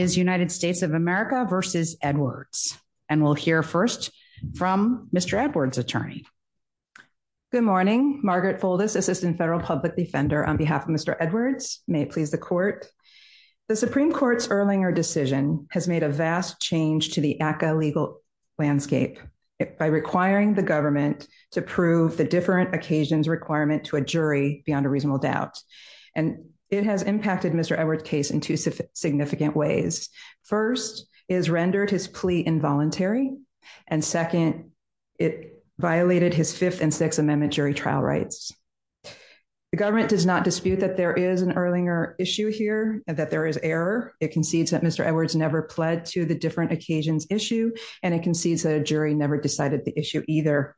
is United States of America versus Edwards. And we'll hear first from Mr. Edwards attorney. Good morning, Margaret Fuldis, Assistant Federal Public Defender on behalf of Mr. Edwards, may it please the court. The Supreme Court's Erlinger decision has made a vast change to the ACCA legal landscape by requiring the government to prove the different occasions requirement to a jury beyond a reasonable doubt. And it has impacted Mr. Edwards case in two significant ways. First is rendered his plea involuntary. And second, it violated his Fifth and Sixth Amendment jury trial rights. The government does not dispute that there is an Erlinger issue here that there is error, it concedes that Mr. Edwards never pled to the different occasions issue. And it concedes that a jury never decided the issue either.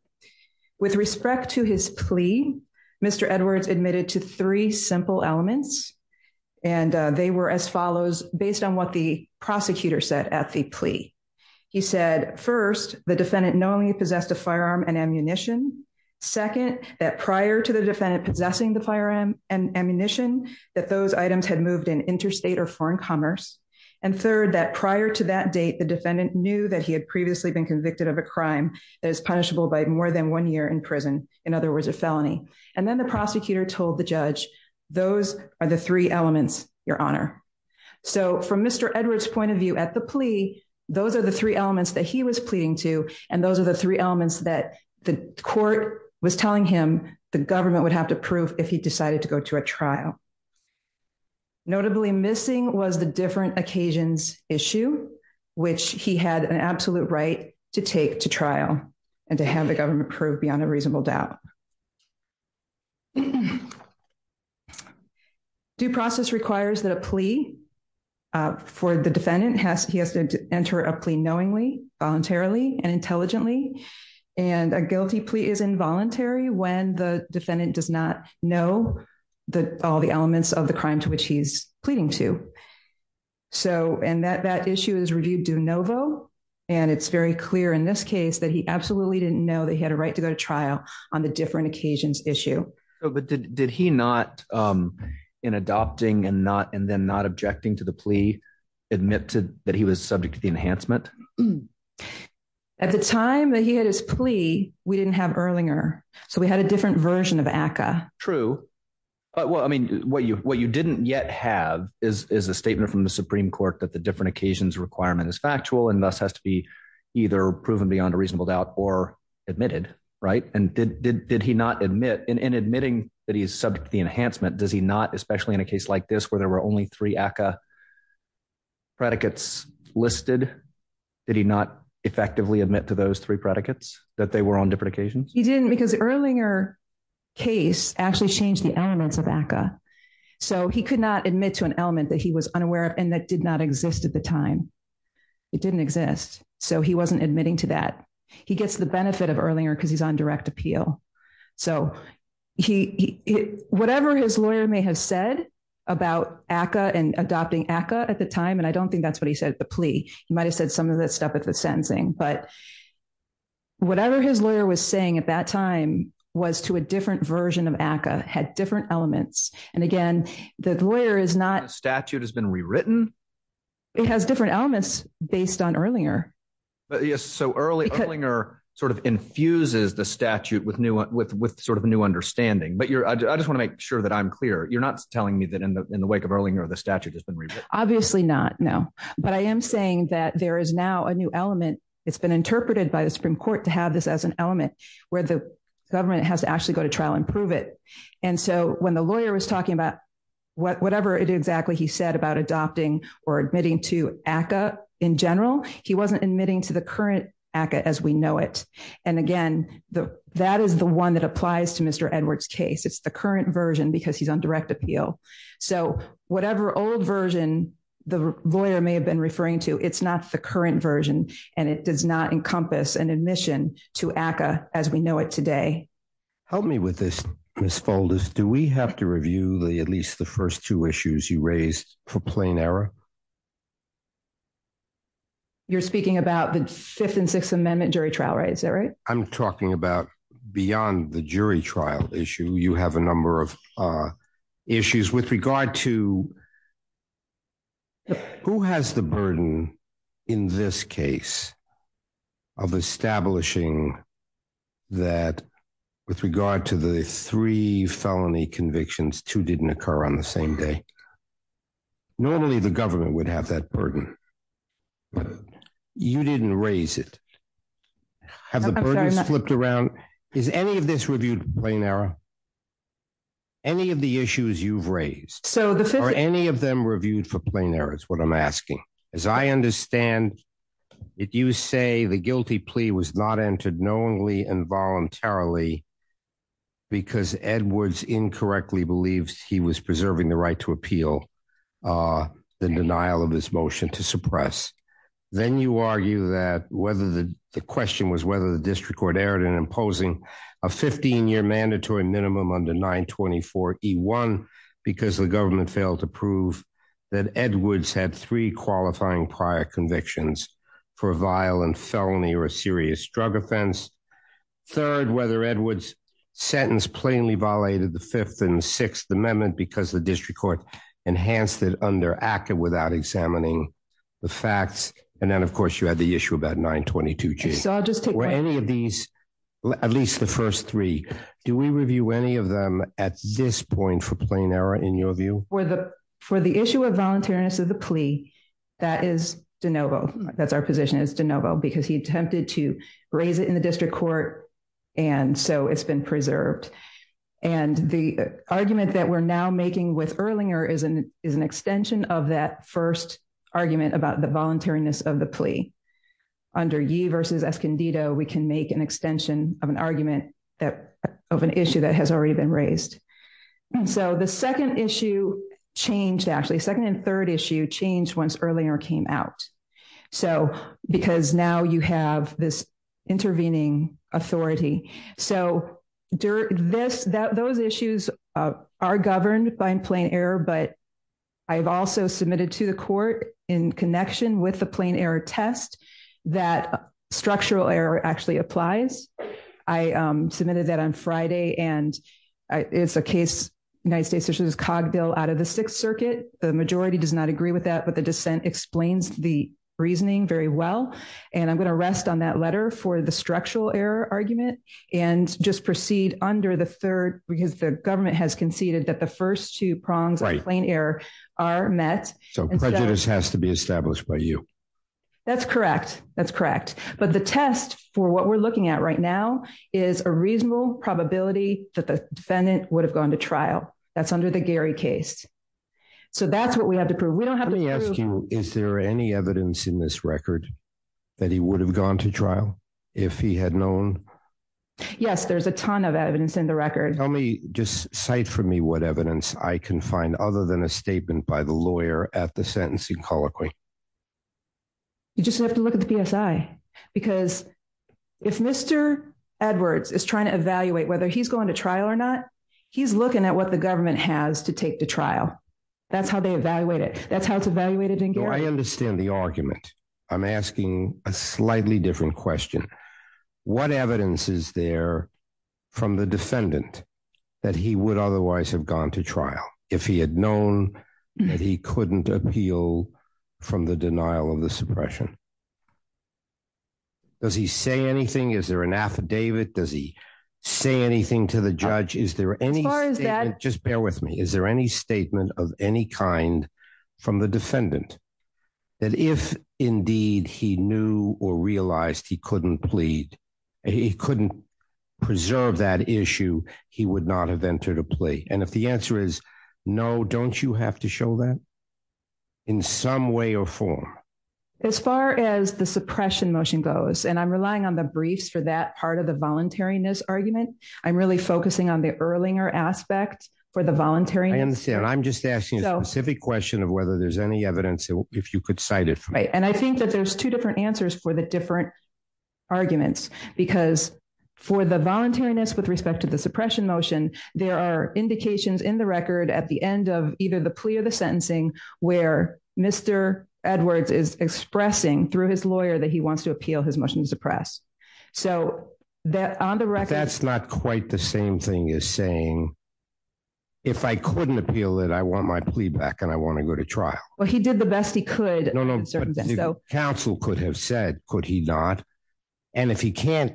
With respect to his plea, Mr. Edwards admitted to three simple elements. And they were as follows based on what the prosecutor said at the plea. He said first, the defendant knowingly possessed a firearm and ammunition. Second, that prior to the defendant possessing the firearm and ammunition, that those items had moved in interstate or foreign commerce. And third, that prior to that date, the defendant knew that he had previously been convicted of a crime that is punishable by more than one year in prison, in other words, a felony. And then the prosecutor told the judge, those are the three elements, Your Honor. So from Mr. Edwards point of view at the plea, those are the three elements that he was pleading to. And those are the three elements that the court was telling him the government would have to prove if he decided to go to a trial. Notably missing was the different occasions issue, which he had an absolute right to take to trial, and to have the firearm approved beyond a reasonable doubt. Due process requires that a plea for the defendant has he has to enter a plea knowingly, voluntarily and intelligently. And a guilty plea is involuntary when the defendant does not know that all the elements of the crime to which he's pleading to. So and that that issue is reviewed de novo. And it's very clear in this case that he absolutely didn't know that he had a right to go to trial on the different occasions issue. But did he not in adopting and not and then not objecting to the plea, admit to that he was subject to the enhancement? At the time that he had his plea, we didn't have Erlinger. So we had a different version of ACCA. True. But well, I mean, what you what you didn't yet have is a statement from the Supreme Court that the different occasions requirement is factual, and thus has to be either proven beyond a reasonable doubt or admitted, right? And did he not admit in admitting that he is subject to the enhancement? Does he not, especially in a case like this, where there were only three ACCA predicates listed? Did he not effectively admit to those three predicates that they were on different occasions? He didn't because Erlinger case actually changed the elements of ACCA. So he could not admit to an element that he was unaware and that did not exist at the time. It didn't exist. So he wasn't admitting to that he gets the benefit of Erlinger because he's on direct appeal. So he whatever his lawyer may have said about ACCA and adopting ACCA at the time, and I don't think that's what he said the plea, you might have said some of that stuff at the sentencing, but whatever his lawyer was saying at that time, was to a different version of ACCA had different elements. And again, the lawyer is not statute has been rewritten. It has different elements based on earlier. Yes. So early Erlinger sort of infuses the statute with new with with sort of a new understanding, but you're I just want to make sure that I'm clear. You're not telling me that in the in the wake of Erlinger, the statute has been rewritten. Obviously not. No, but I am saying that there is now a new element. It's been interpreted by the Supreme Court to have this as an element where the government has to actually go to trial and prove it. And so when the lawyer was talking about what whatever it exactly he said about adopting or admitting to ACCA in general, he wasn't admitting to the current ACCA as we know it. And again, that is the one that applies to Mr. Edwards case. It's the current version because he's on direct appeal. So whatever old version the lawyer may have been referring to, it's not the current version, and it does not encompass an admission to ACCA as we know it today. Help me with this, Ms. Folders, do we have to review the at least the first two issues you raised for plain error? You're speaking about the Fifth and Sixth Amendment jury trial, right? Is that right? I'm talking about beyond the jury trial issue. You have a number of issues with regard to who has the burden in this case of establishing that with regard to the three felony convictions, two didn't occur on the same day. Normally, the government would have that burden, but you didn't raise it. Have the burdens flipped around? Is any of this reviewed plain error? Any of the issues you've raised? Are any of them reviewed for plain error? That's what I'm asking. As I understand it, you say the guilty plea was not entered knowingly and voluntarily because Edwards incorrectly believes he was preserving the right to appeal the denial of his motion to suppress. Then you argue that whether the question was whether the district court erred in imposing a 15-year mandatory minimum under 924E1 because the government failed to prove that Edwards had three qualifying prior convictions for a violent felony or a serious drug offense. Third, whether Edwards sentence plainly violated the Fifth and Sixth Amendment because the district court enhanced it under ACCA without examining the facts. And then, of course, you had the issue about 922G. I'll just take one. Were any of these, at least the first three, do we review any of them at this point for plain error in your view? For the issue of voluntariness of the plea, that is de novo. That's our position. It's de novo because he attempted to raise it in the district court and so it's been preserved. And the argument that we're now making with Erlinger is an extension of that first argument about the voluntariness of the plea. Under Yee versus Escondido, we can make an extension of an argument of an issue that has already been raised. And so the second issue changed, actually, second and third issue changed once Erlinger came out. So because now you have this intervening authority. So those issues are governed by plain error, but I've also submitted to the court in connection with the plain error test that structural error actually applies. I submitted that on and it's a case, United States issues, Cog bill out of the Sixth Circuit. The majority does not agree with that, but the dissent explains the reasoning very well. And I'm going to rest on that letter for the structural error argument and just proceed under the third because the government has conceded that the first two prongs of plain error are met. So prejudice has to be established by you. That's correct. That's correct. But the test for what we're looking at now is a reasonable probability that the defendant would have gone to trial. That's under the Gary case. So that's what we have to prove. We don't have to ask you. Is there any evidence in this record that he would have gone to trial if he had known? Yes, there's a ton of evidence in the record. Tell me just cite for me what evidence I can find other than a statement by the lawyer at the sentencing colloquy. You just have to look at the PSI because if Mr. Edwards is trying to evaluate whether he's going to trial or not, he's looking at what the government has to take to trial. That's how they evaluate it. That's how it's evaluated. I understand the argument. I'm asking a slightly different question. What evidence is there from the defendant that he would otherwise have gone to trial if he had known that he couldn't appeal from the denial of the suppression? Does he say anything? Is there an affidavit? Does he say anything to the judge? Is there any as far as that? Just bear with me. Is there any statement of any kind from the defendant that if indeed he knew or realized he couldn't plead, he couldn't preserve that issue. He would not have entered a plea and if the answer is no, don't you have to show that in some way or form? As far as the suppression motion goes and I'm relying on the briefs for that part of the voluntariness argument. I'm really focusing on the Erlinger aspect for the voluntary. I understand. I'm just asking a specific question of whether there's any evidence if you could cite it right and I think that there's two different answers for the different arguments because for the voluntariness with respect to the suppression motion, there are indications in the record at the end of either the plea or the sentencing where Mr. Edwards is expressing through his lawyer that he wants to appeal his motion to suppress. So that on the record, that's not quite the same thing as saying if I couldn't appeal it, I want my plea back and I want to go to trial. Well, he did the best he could. No, no, but counsel could have said could he not and if he can't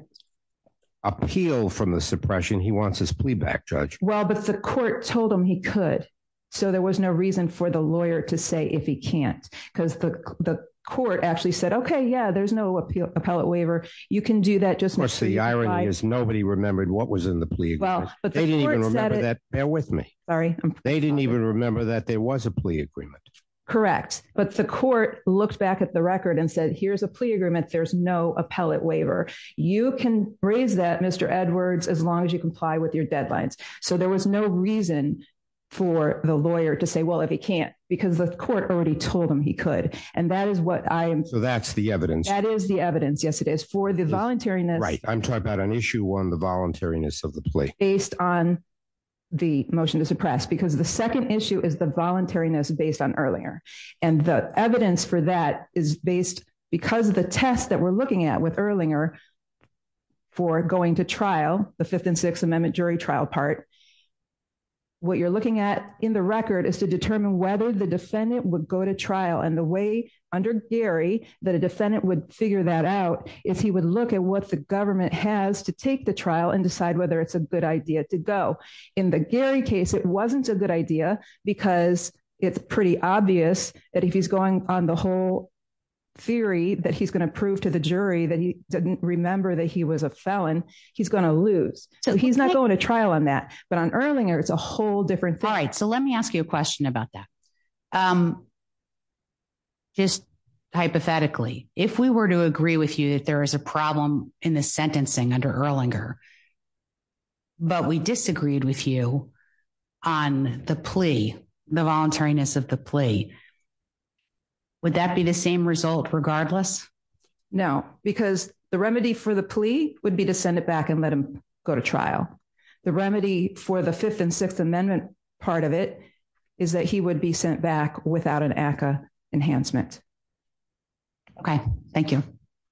appeal from the suppression, he wants his plea back judge. Well, but the court told him he could so there was no reason for the lawyer to say if he can't because the the court actually said, okay. Yeah, there's no appellate waiver. You can do that. Just the irony is nobody remembered what was in the plea. Well, but they didn't even remember that bear with me. Sorry. They didn't even remember that there was a plea agreement. Correct. But the court looked back at the record and said, here's a plea agreement. There's no appellate waiver. You can raise that Mr. Edwards as long as you comply with your deadlines. So there was no reason for the lawyer to say, well, if he can't because the court already told him he could and that is what I am. So that's the evidence. That is the evidence. Yes, it is for the voluntariness, right? I'm talking about an issue on the voluntariness of the plea based on the motion to suppress because the second issue is the voluntariness based on Erlinger and the evidence for that is based because of the test that we're looking at with Erlinger for going to trial the fifth and sixth Amendment jury trial part. What you're looking at in the record is to determine whether the defendant would go to trial and the way under Gary that a defendant would figure that out if he would look at what the government has to take the trial and decide whether it's a good idea to go in the Gary case. It wasn't a good idea because it's pretty obvious that if he's going on the whole theory that he's going to prove to the jury that he didn't remember that he was a felon, he's going to lose. So he's not going to trial on that, but on Erlinger, it's a whole different thing. Alright, so let me ask you a question about that. Just hypothetically if we were to agree with you that there is a problem in the sentencing under Erlinger, but we disagreed with you on the plea, the voluntariness of the plea. Would that be the same result regardless? No, because the remedy for the plea would be to send it back and let him go to trial. The remedy for the Fifth and Sixth Amendment part of it is that he would be sent back without an ACA enhancement. Okay. Thank you.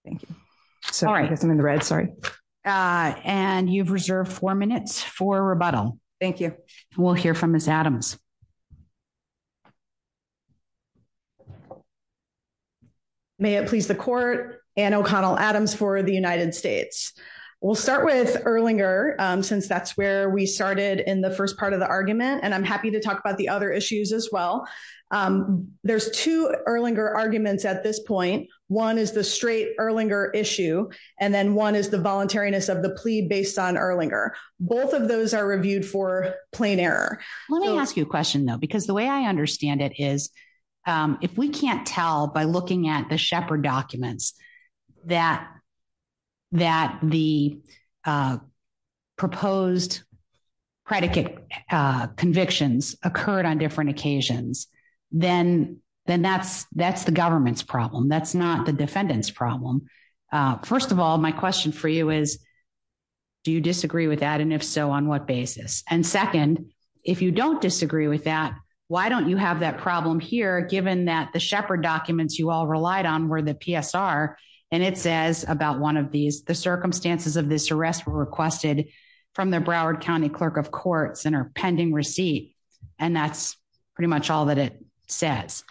Thank you. So I guess I'm in the red. Sorry and you've reserved 4 minutes for rebuttal. Thank you. We'll hear from Miss Adams. May it please the court and O'Connell Adams for the United States. We'll start with Erlinger since that's where we started in the first part of the argument and I'm happy to talk about the other issues as well. There's two Erlinger arguments at this point. One is the straight Erlinger issue and then one is the voluntariness of the plea based on Erlinger. Both of those are reviewed for plain error. Let me ask you a question though because the way I understand it is if we can't tell by looking at the Shepard documents that that the proposed predicate convictions occurred on different occasions then then that's that's the government's problem. That's not the defendant's problem. First of all, my question for you is do you disagree with that and if so on what basis and second if you don't disagree with that, why don't you have that problem here given that the Shepard documents you all relied on were the PSR and it says about one of these the circumstances of this arrest were requested from the Broward County Clerk of Courts and are pending receipt and that's pretty much all that it says.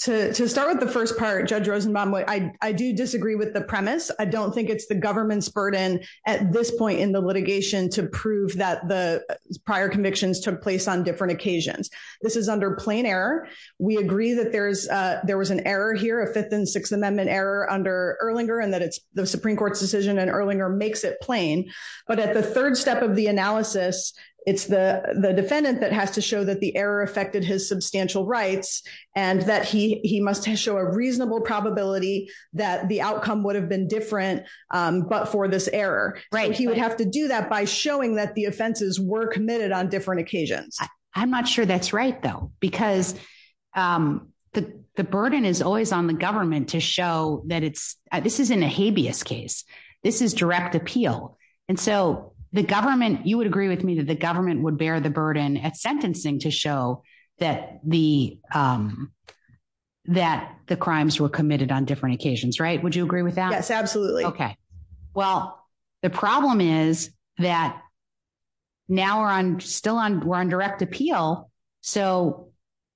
To to start with the first part Judge Rosenbaum, I do disagree with the premise. I don't think it's the government's burden at this point in the litigation to prove that the prior convictions took place on different occasions. This is under plain error. We agree that there's there was an error here, a fifth and sixth Amendment error under Erlinger and that it's the Supreme Court's decision and Erlinger makes it plain, but at the third step of the analysis, it's the the defendant that has to show that the error affected his substantial rights and that he he must show a reasonable probability that the outcome would have been different but for this error, right? He would have to do that by showing that the offenses were committed on different occasions. I'm not sure that's right though because the the burden is always on the government to show that it's this isn't a habeas case. This is direct appeal and so the government you would agree with me that the government would bear the burden at sentencing to show that the that the crimes were committed on different occasions, right? Would you agree with that? Yes, absolutely. Okay. Well, the is that now we're on still on we're on direct appeal. So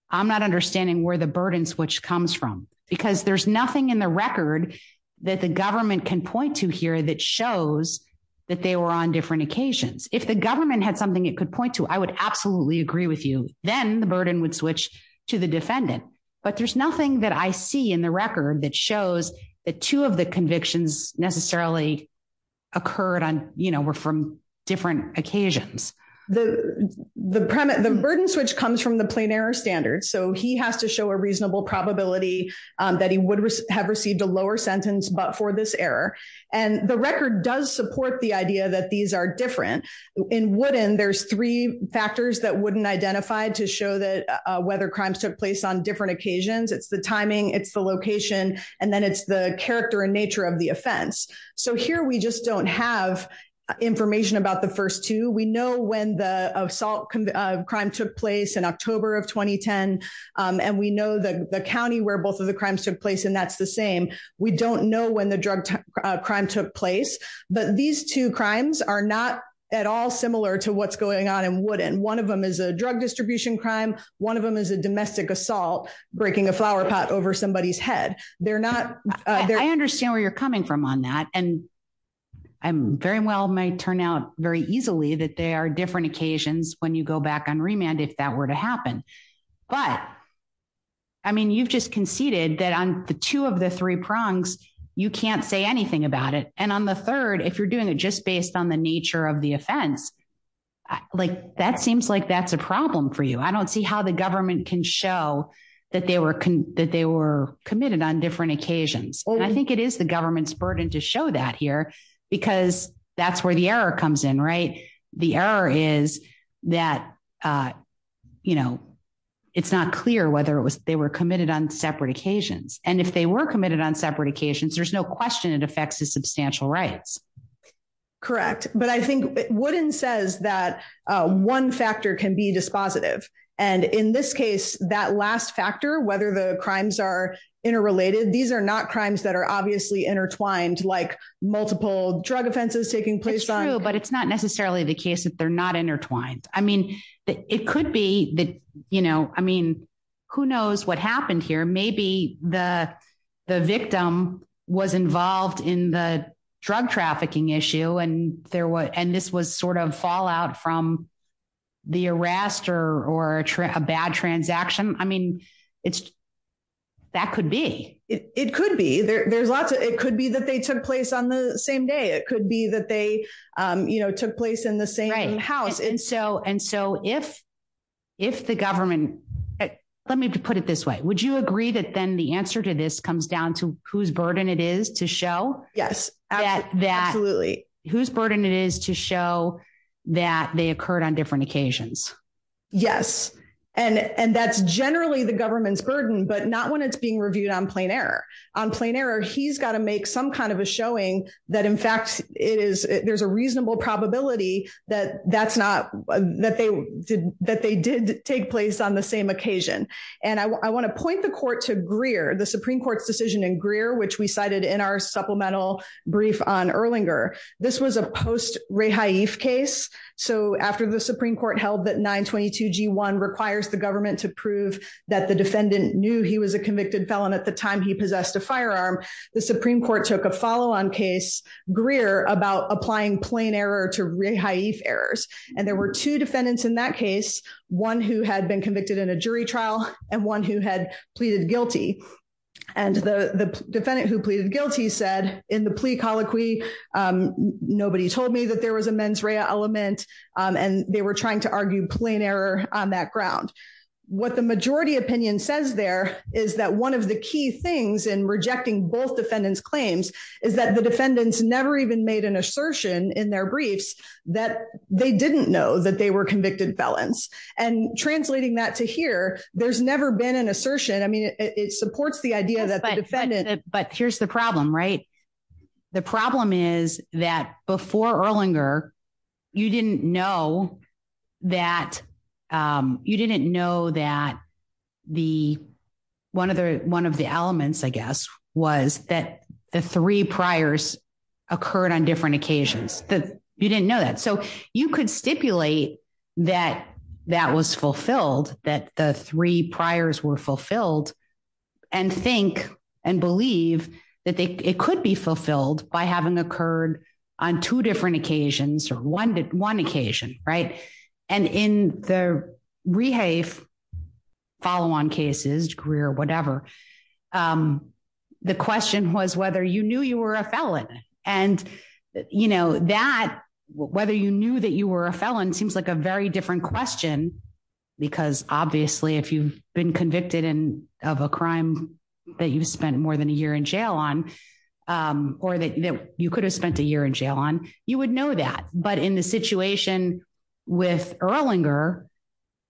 I'm not understanding where the burden switch comes from because there's nothing in the record that the government can point to here that shows that they were on different occasions. If the government had something it could point to, I would absolutely agree with you. Then the burden would switch to the defendant, but there's nothing that I see in the record that shows that two of the convictions necessarily occurred on, you know, we're from different occasions. The the burden switch comes from the plain error standard. So he has to show a reasonable probability that he would have received a lower sentence, but for this error and the record does support the idea that these are different in wooden. There's three factors that wouldn't identify to show that whether crimes took place on different occasions. It's the timing. It's the location and then it's the character and of the offense. So here we just don't have information about the first two. We know when the assault crime took place in October of 2010 and we know that the county where both of the crimes took place and that's the same. We don't know when the drug crime took place, but these two crimes are not at all similar to what's going on and wouldn't one of them is a drug distribution crime. One of them is a domestic assault breaking a flower pot over somebody's head. They're not I understand where you're coming from on that and I'm very well might turn out very easily that they are different occasions when you go back on remand if that were to happen, but I mean you've just conceded that on the two of the three prongs you can't say anything about it and on the third if you're doing it just based on the nature of the offense like that seems like that's a problem for you. I don't see how the government can show that they were that they were committed on different occasions. I think it is the government's burden to show that here because that's where the error comes in right. The error is that you know it's not clear whether it was they were committed on separate occasions and if they were committed on separate occasions, there's no question. It affects the substantial rights correct, but I think it wouldn't says that one factor can be dispositive and in this case that last factor whether the crimes are interrelated. These are not crimes that are obviously intertwined like multiple drug offenses taking place, but it's not necessarily the case that they're not intertwined. I mean it could be that you know I mean who knows what happened here. Maybe the the victim was involved in the drug trafficking issue and there was and this was sort of out from the arrest or or a bad transaction. I mean it's that could be it could be there's lots of it could be that they took place on the same day. It could be that they you know took place in the same house and so and so if if the government let me put it this way. Would you agree that then the answer to this comes down to whose burden it is to show Yes, absolutely whose burden it is to show that they occurred on different occasions. Yes, and and that's generally the government's burden, but not when it's being reviewed on plain error on plain error. He's gotta make some kind of a showing that in fact it is there's a reasonable probability that that's not that they did that they did take place on the same occasion and II wanna point the court to Greer the Supreme Court's decision in Greer, which we cited in our supplemental brief on Erlanger. This was a post case so after the Supreme Court held that 922 G1 requires the government to prove that the defendant knew he was a convicted felon at the time he possessed a firearm. The Supreme Court took a follow-on case Greer about applying plain error to errors and there were two defendants in that case, one who had been convicted in a jury trial and one who had pleaded guilty and the defendant who pleaded guilty said in the plea colloquy nobody told me that there was a mens rea element and they were trying to argue plain error on that ground. What the majority opinion says there is that one of the key things in rejecting both defendants claims is that the defendants never even made an assertion in their briefs that they didn't know that they were convicted felons and translating that to here. There's never been an assertion. I mean it supports the idea that the defendant but here's the problem right. The problem is that before Erlanger, you didn't know that you didn't know that the one of the one of the elements, I guess was that the three priors occurred on different occasions that you didn't know that so you could stipulate that that was fulfilled that the three priors were fulfilled and think and believe that it could be fulfilled by having occurred on two different occasions or one occasion right and in the rehave follow-on cases career or whatever. The question was whether you knew you were a felon and you know that whether you knew that you were a felon seems like a very different question because obviously if you've been convicted in of a crime that you've spent more than a year in jail on or that you could have spent a year in jail on you would know that but in the situation with Erlanger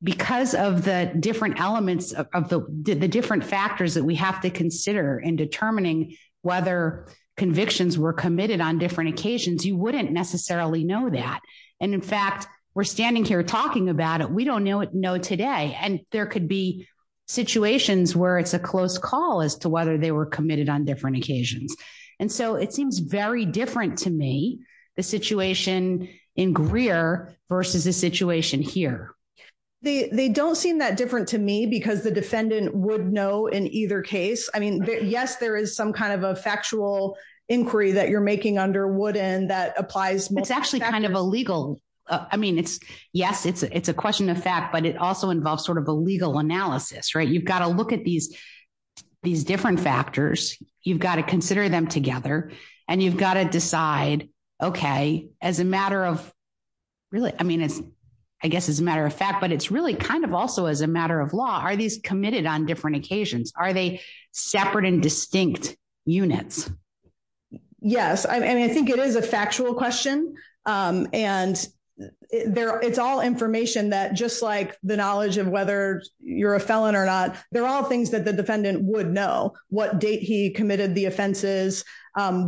because of the different elements of the different factors that we have to consider in determining whether convictions were committed on different occasions, you wouldn't necessarily know that and in fact, we're standing here talking about it. We don't know today and there could be situations where it's a close call as to whether they were committed on different occasions and so it seems very different to me the situation in Greer versus the situation here. They don't seem that different to me because the defendant would know in either case. I mean, yes, there is some kind of a factual inquiry that you're making under wood and that applies. It's actually kind of a legal. I mean, it's yes. It's it's a question of fact, but it also involves sort of a legal analysis, right? You've gotta look at these these different factors. You've gotta consider them together and you've gotta decide okay as a matter of really, I mean, it's I guess it's a matter of fact, but it's really kind of also as a matter of law. Are these committed on different occasions? Are they separate and distinct units? Yes, I mean, I think it is a factual question and there it's all information that just like the knowledge of whether you're a felon or not. They're all things that the defendant would know what date he committed the offenses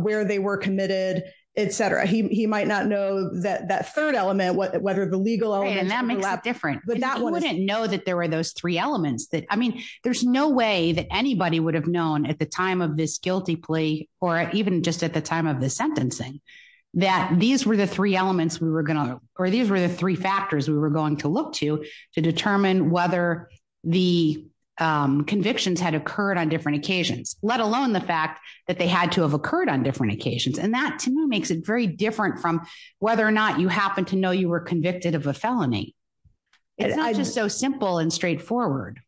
where they were committed, etcetera. He he might not know that that third element whether the legal element and that makes it different, but that one wouldn't know that there were those three elements that I mean, there's no way that anybody would have known at the time of this guilty plea or even just at the time of the sentencing that these were the three elements we were going to or these were the three factors we were going to look to to determine whether the convictions had occurred on different occasions, let alone the fact that they had to have occurred on different occasions and that to me makes it very different from whether or not you happen to know you were convicted of a felony. It's not just so simple and straightforward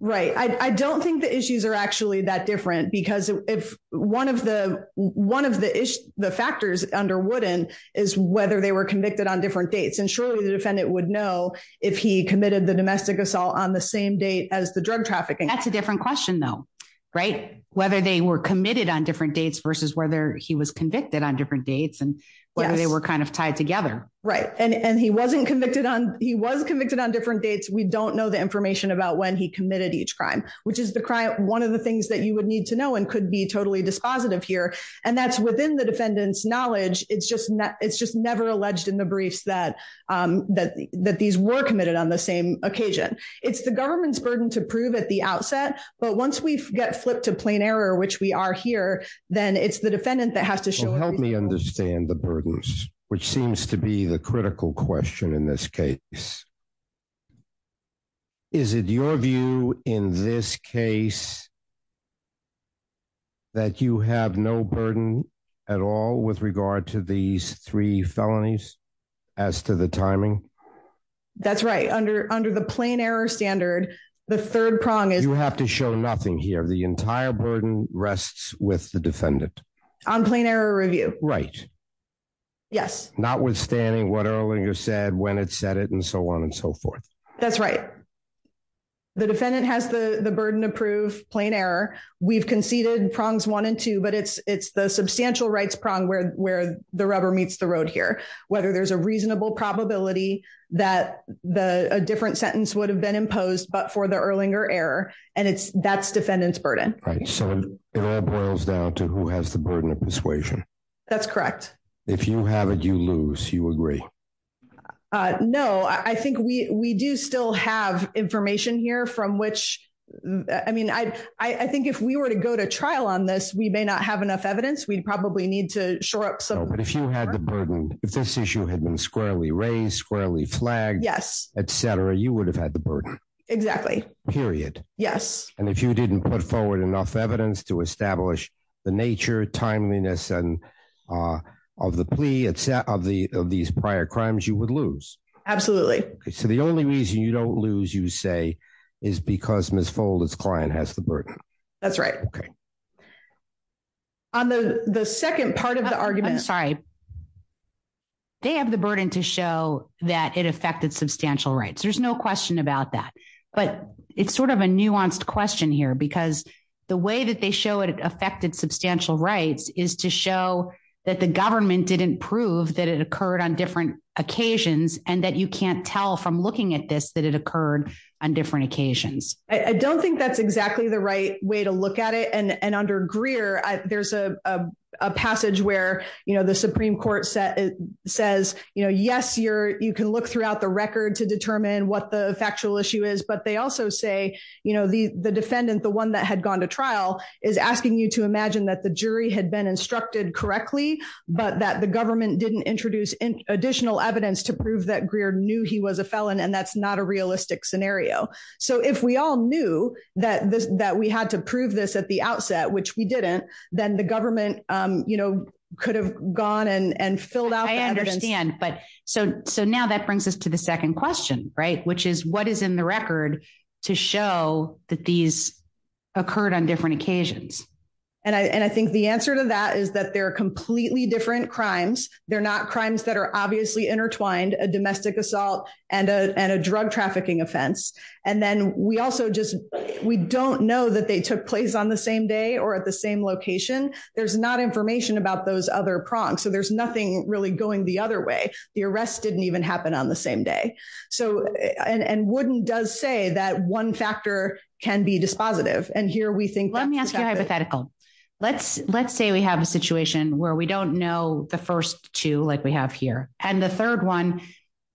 right. I don't think the issues are actually that different because if one of the one of the the factors under wooden is whether they were convicted on different dates and surely the defendant would know if he committed the domestic assault on the same date as the drug trafficking. That's a different question though right whether they were committed on different dates versus whether he was convicted on different dates and whether they were kind of tied together right and and he wasn't convicted on. He was convicted on different dates. We don't know the information about when he committed each crime, which is the one of the things that you would need to know and could be totally dispositive here and that's within the defendant's knowledge. It's just it's just never alleged in the briefs that that that these were committed on the same occasion. It's the government's burden to prove at the outset, but once we get flipped to plain error, which we are here, then it's the defendant that has to show help me understand the burdens, which seems to be the critical question in this case. Is it your view in this case? That you have no burden at all with regard to these three felonies as to the timing. That's right under under the plain error standard, the third prong is you have to show nothing here. The entire burden rests with the defendant on plain error review, right? Yes, notwithstanding what earlier you said when it said it and so on and so forth. That's right. The defendant has the the burden of proof plain error. We've conceded prongs one and two, but it's it's the substantial rights prong where where the rubber meets the road here, whether there's a reasonable probability that the a different sentence would have been imposed, but for the earlier error and it's that's defendant's burden, right? So it all boils down to who has the persuasion. That's correct. If you have it, you lose you agree. No, I think we we do still have information here from which I mean II think if we were to go to trial on this, we may not have enough evidence. We probably need to shore up so, but if you had the burden, if this issue had been squarely raised squarely flagged, yes, etcetera, you would have had the burden exactly period. Yes. And if you didn't put forward enough evidence to establish the nature timeliness and of the plea of the of these prior crimes, you would lose. Absolutely. Okay. So the only reason you don't lose you say is because Miss Folder's client has the burden. That's right. Okay. On the the second part of the argument. I'm sorry. They have the burden to show that it affected substantial rights. There's no question about that, but it's sort of a nuanced question here because the way that they show it affected substantial rights is to show that the government didn't prove that it occurred on different occasions and that you can't tell from looking at this that it occurred on different occasions. I don't think that's exactly the right way to look at it and and under Greer, there's a passage where you know the Supreme Court says, you know, yes, you're you can look throughout the record to determine what the factual issue is, but they also say you know the the defendant, the one that had gone to trial is asking you to imagine that the jury had been instructed correctly, but that the government didn't introduce additional evidence to prove that Greer knew he was a felon and that's not a realistic scenario. So if we all knew that that we had to prove this at the outset, which we didn't then the government, you know could have gone and and filled out. I understand, but so so now that brings us to the second question right, which is what is in the record to show that these occurred on different occasions and I and I think the answer to that is that they're completely different crimes. They're not crimes that are obviously intertwined a domestic assault and a and a drug trafficking offense and then we also just we don't know that they took place on the same day or at the same location. There's not information about those other prongs, so there's nothing really going the other way. The arrest didn't even happen on the same day so and and wouldn't does say that one factor can be dispositive and here we think let me ask you a hypothetical. Let's let's say we have a situation where we don't know the first two like we have here and the third one.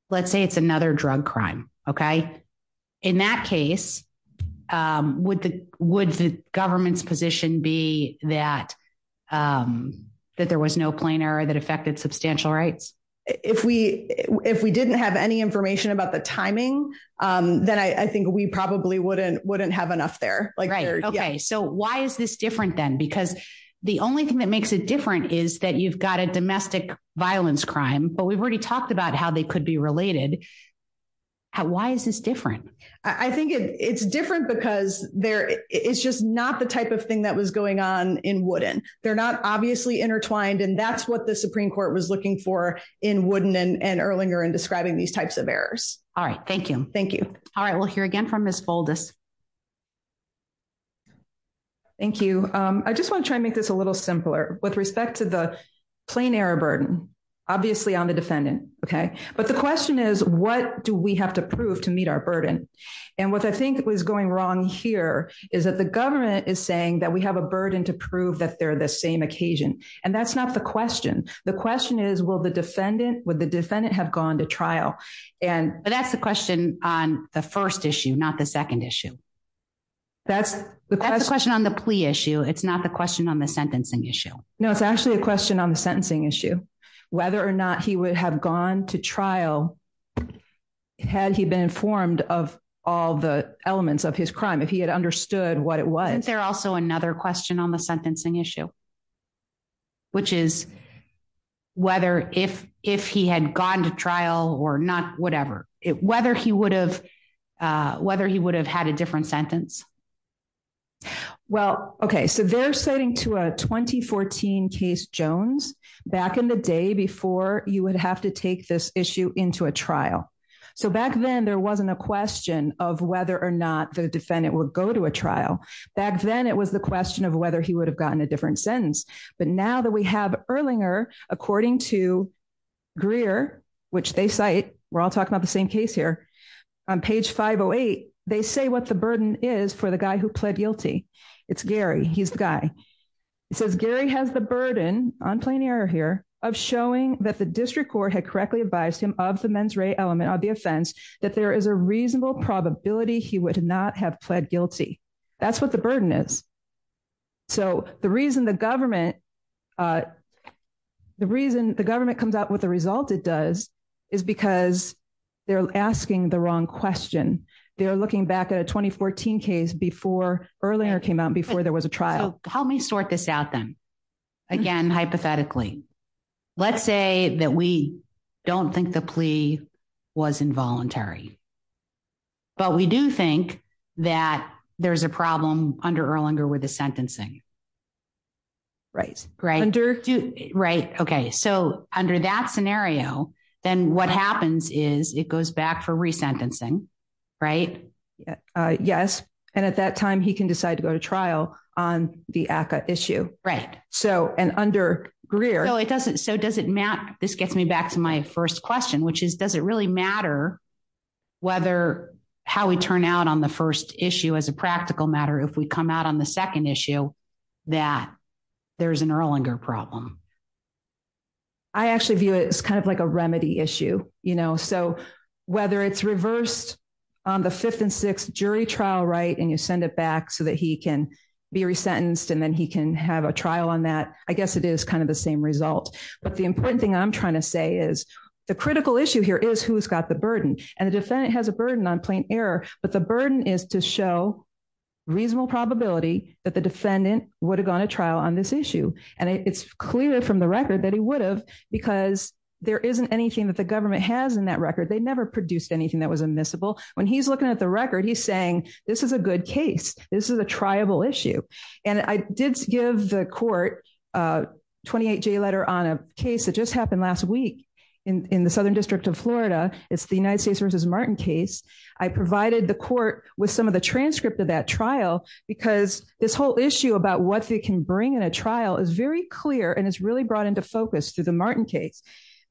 Let's say it's another drug crime. Okay in that case would the would the government's position be that that there was no plain error that affected substantial rights if we if we didn't have any information about the timing that I think we probably wouldn't wouldn't have enough there like right. Okay. So why is this different then because the only thing that makes it different is that you've got a domestic violence crime, but we've already talked about how they could be related. How why is this different? I think it's different because there is just not the type of thing that was going on in wooden. They're not obviously intertwined and that's what the Supreme Court was looking for in wooden and Erlinger and describing these types of errors. Alright. Thank you. Thank you. Alright. We'll hear again from miss boldest. Thank you. I just want to try and make this a little simpler with respect to the plain error burden obviously on the defendant. Okay, but the question is what do we have to prove to meet our burden and what I think was going wrong here is that the government is saying that we have a burden to prove that they're the same occasion and that's not the question. The question is will the defendant would the defendant have gone to trial and that's the question on the first issue, not the second issue. That's the question on the plea issue. It's not the question on the sentencing issue. No, it's actually a question on the sentencing issue whether or not he would have gone to trial had he been informed of all the elements of his crime. If he had understood what it was, there's also another question on the Sentencing issue, which is whether if if he had gone to trial or not, whatever it whether he would have whether he would have had a different sentence. Well, okay. so they're setting to a 2014 case Jones back in the day before you would have to take this issue into a trial. So back then there wasn't a question of whether or not the defendant would go to a trial back. Then it was the question of whether he would have gotten a different sentence, but now that we have Erlinger according to Greer, which they cite we're all talking about the same case here on page 508. They say what the burden is for the guy who pled guilty. It's Gary. He's the guy. It says Gary has the burden on plain error here of showing that the district court had correctly advised him of the men's element of the offense that there is a reasonable probability he would not have pled guilty. That's what the burden is. so the reason the government. The reason the government comes out with the result it does is because they're asking the wrong question. They're looking back at a 2014 case before earlier came out before there was a trial. So help me sort this out then again. Hypothetically, let's say that we don't think the plea was involuntary, but we do think that there's a problem under Erlinger with the sentencing. Right right under right. Okay. so under that scenario, then what happens is it goes back for resentencing right. Yes, and at that time he can decide to go to trial on the issue right so and under Greer, so it doesn't so does it matter this gets me back to my first question, which is does it really matter whether how we turn out on the first issue as a practical matter if we come out on the second issue that there's an Erlinger problem. I actually view it's kind of like a remedy issue you know so whether it's reversed on the fifth and sixth jury trial right and you send it back so that he can be resentenced and then he can have a trial on that. I guess it is kind of the same result, but the important thing I'm trying to say is the critical issue here is who's got the burden and the defendant has a burden on plain error, but the burden is to show reasonable probability that the defendant would have gone to trial on this issue and it's clear from the record that he would have because there isn't anything that the government has in that record. They never produced anything that was admissible when he's looking at the record. He's saying this is a good case. This is a tribal issue and I did give the court 28 J letter on a case that just happened last week in the Southern District of Florida. It's the United States versus Martin case. I provided the court with some of the transcript of that trial because this whole issue about what they can bring in a trial is very clear and it's really brought into focus to the Martin case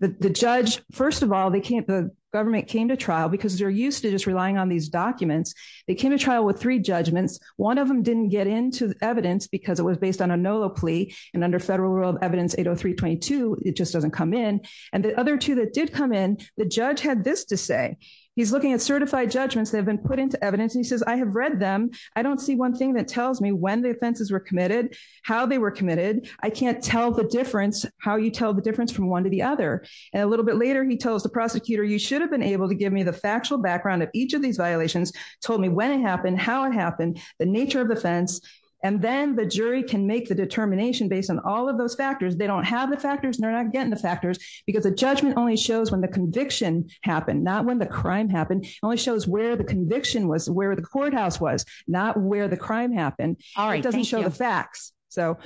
that the judge. First of all, they can't the government came to trial because they're used to just relying on these documents. They came to trial with three judgments. One of them didn't get into evidence because it was based on a no plea and under federal rule of evidence 80322. It just doesn't come in and the other two that did come in. The judge had this to say he's looking at certified judgments that have been put into evidence and he says I have read them. I don't see one thing that tells me when the offenses were committed, how they were committed. I can't tell the difference how you tell the difference from one to the other and a little bit later, he tells the prosecutor you should have been able to give me the factual background of each of these violations told me when it happened, how it happened, the nature of the fence and then the jury can the determination based on all of those factors. They don't have the factors and they're not getting the factors because the judgment only shows when the conviction happened, not when the crime happened only shows where the conviction was where the courthouse was not where the crime happened. Alright, doesn't show the facts. So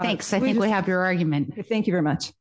thanks. I think we have your argument. Thank you very much.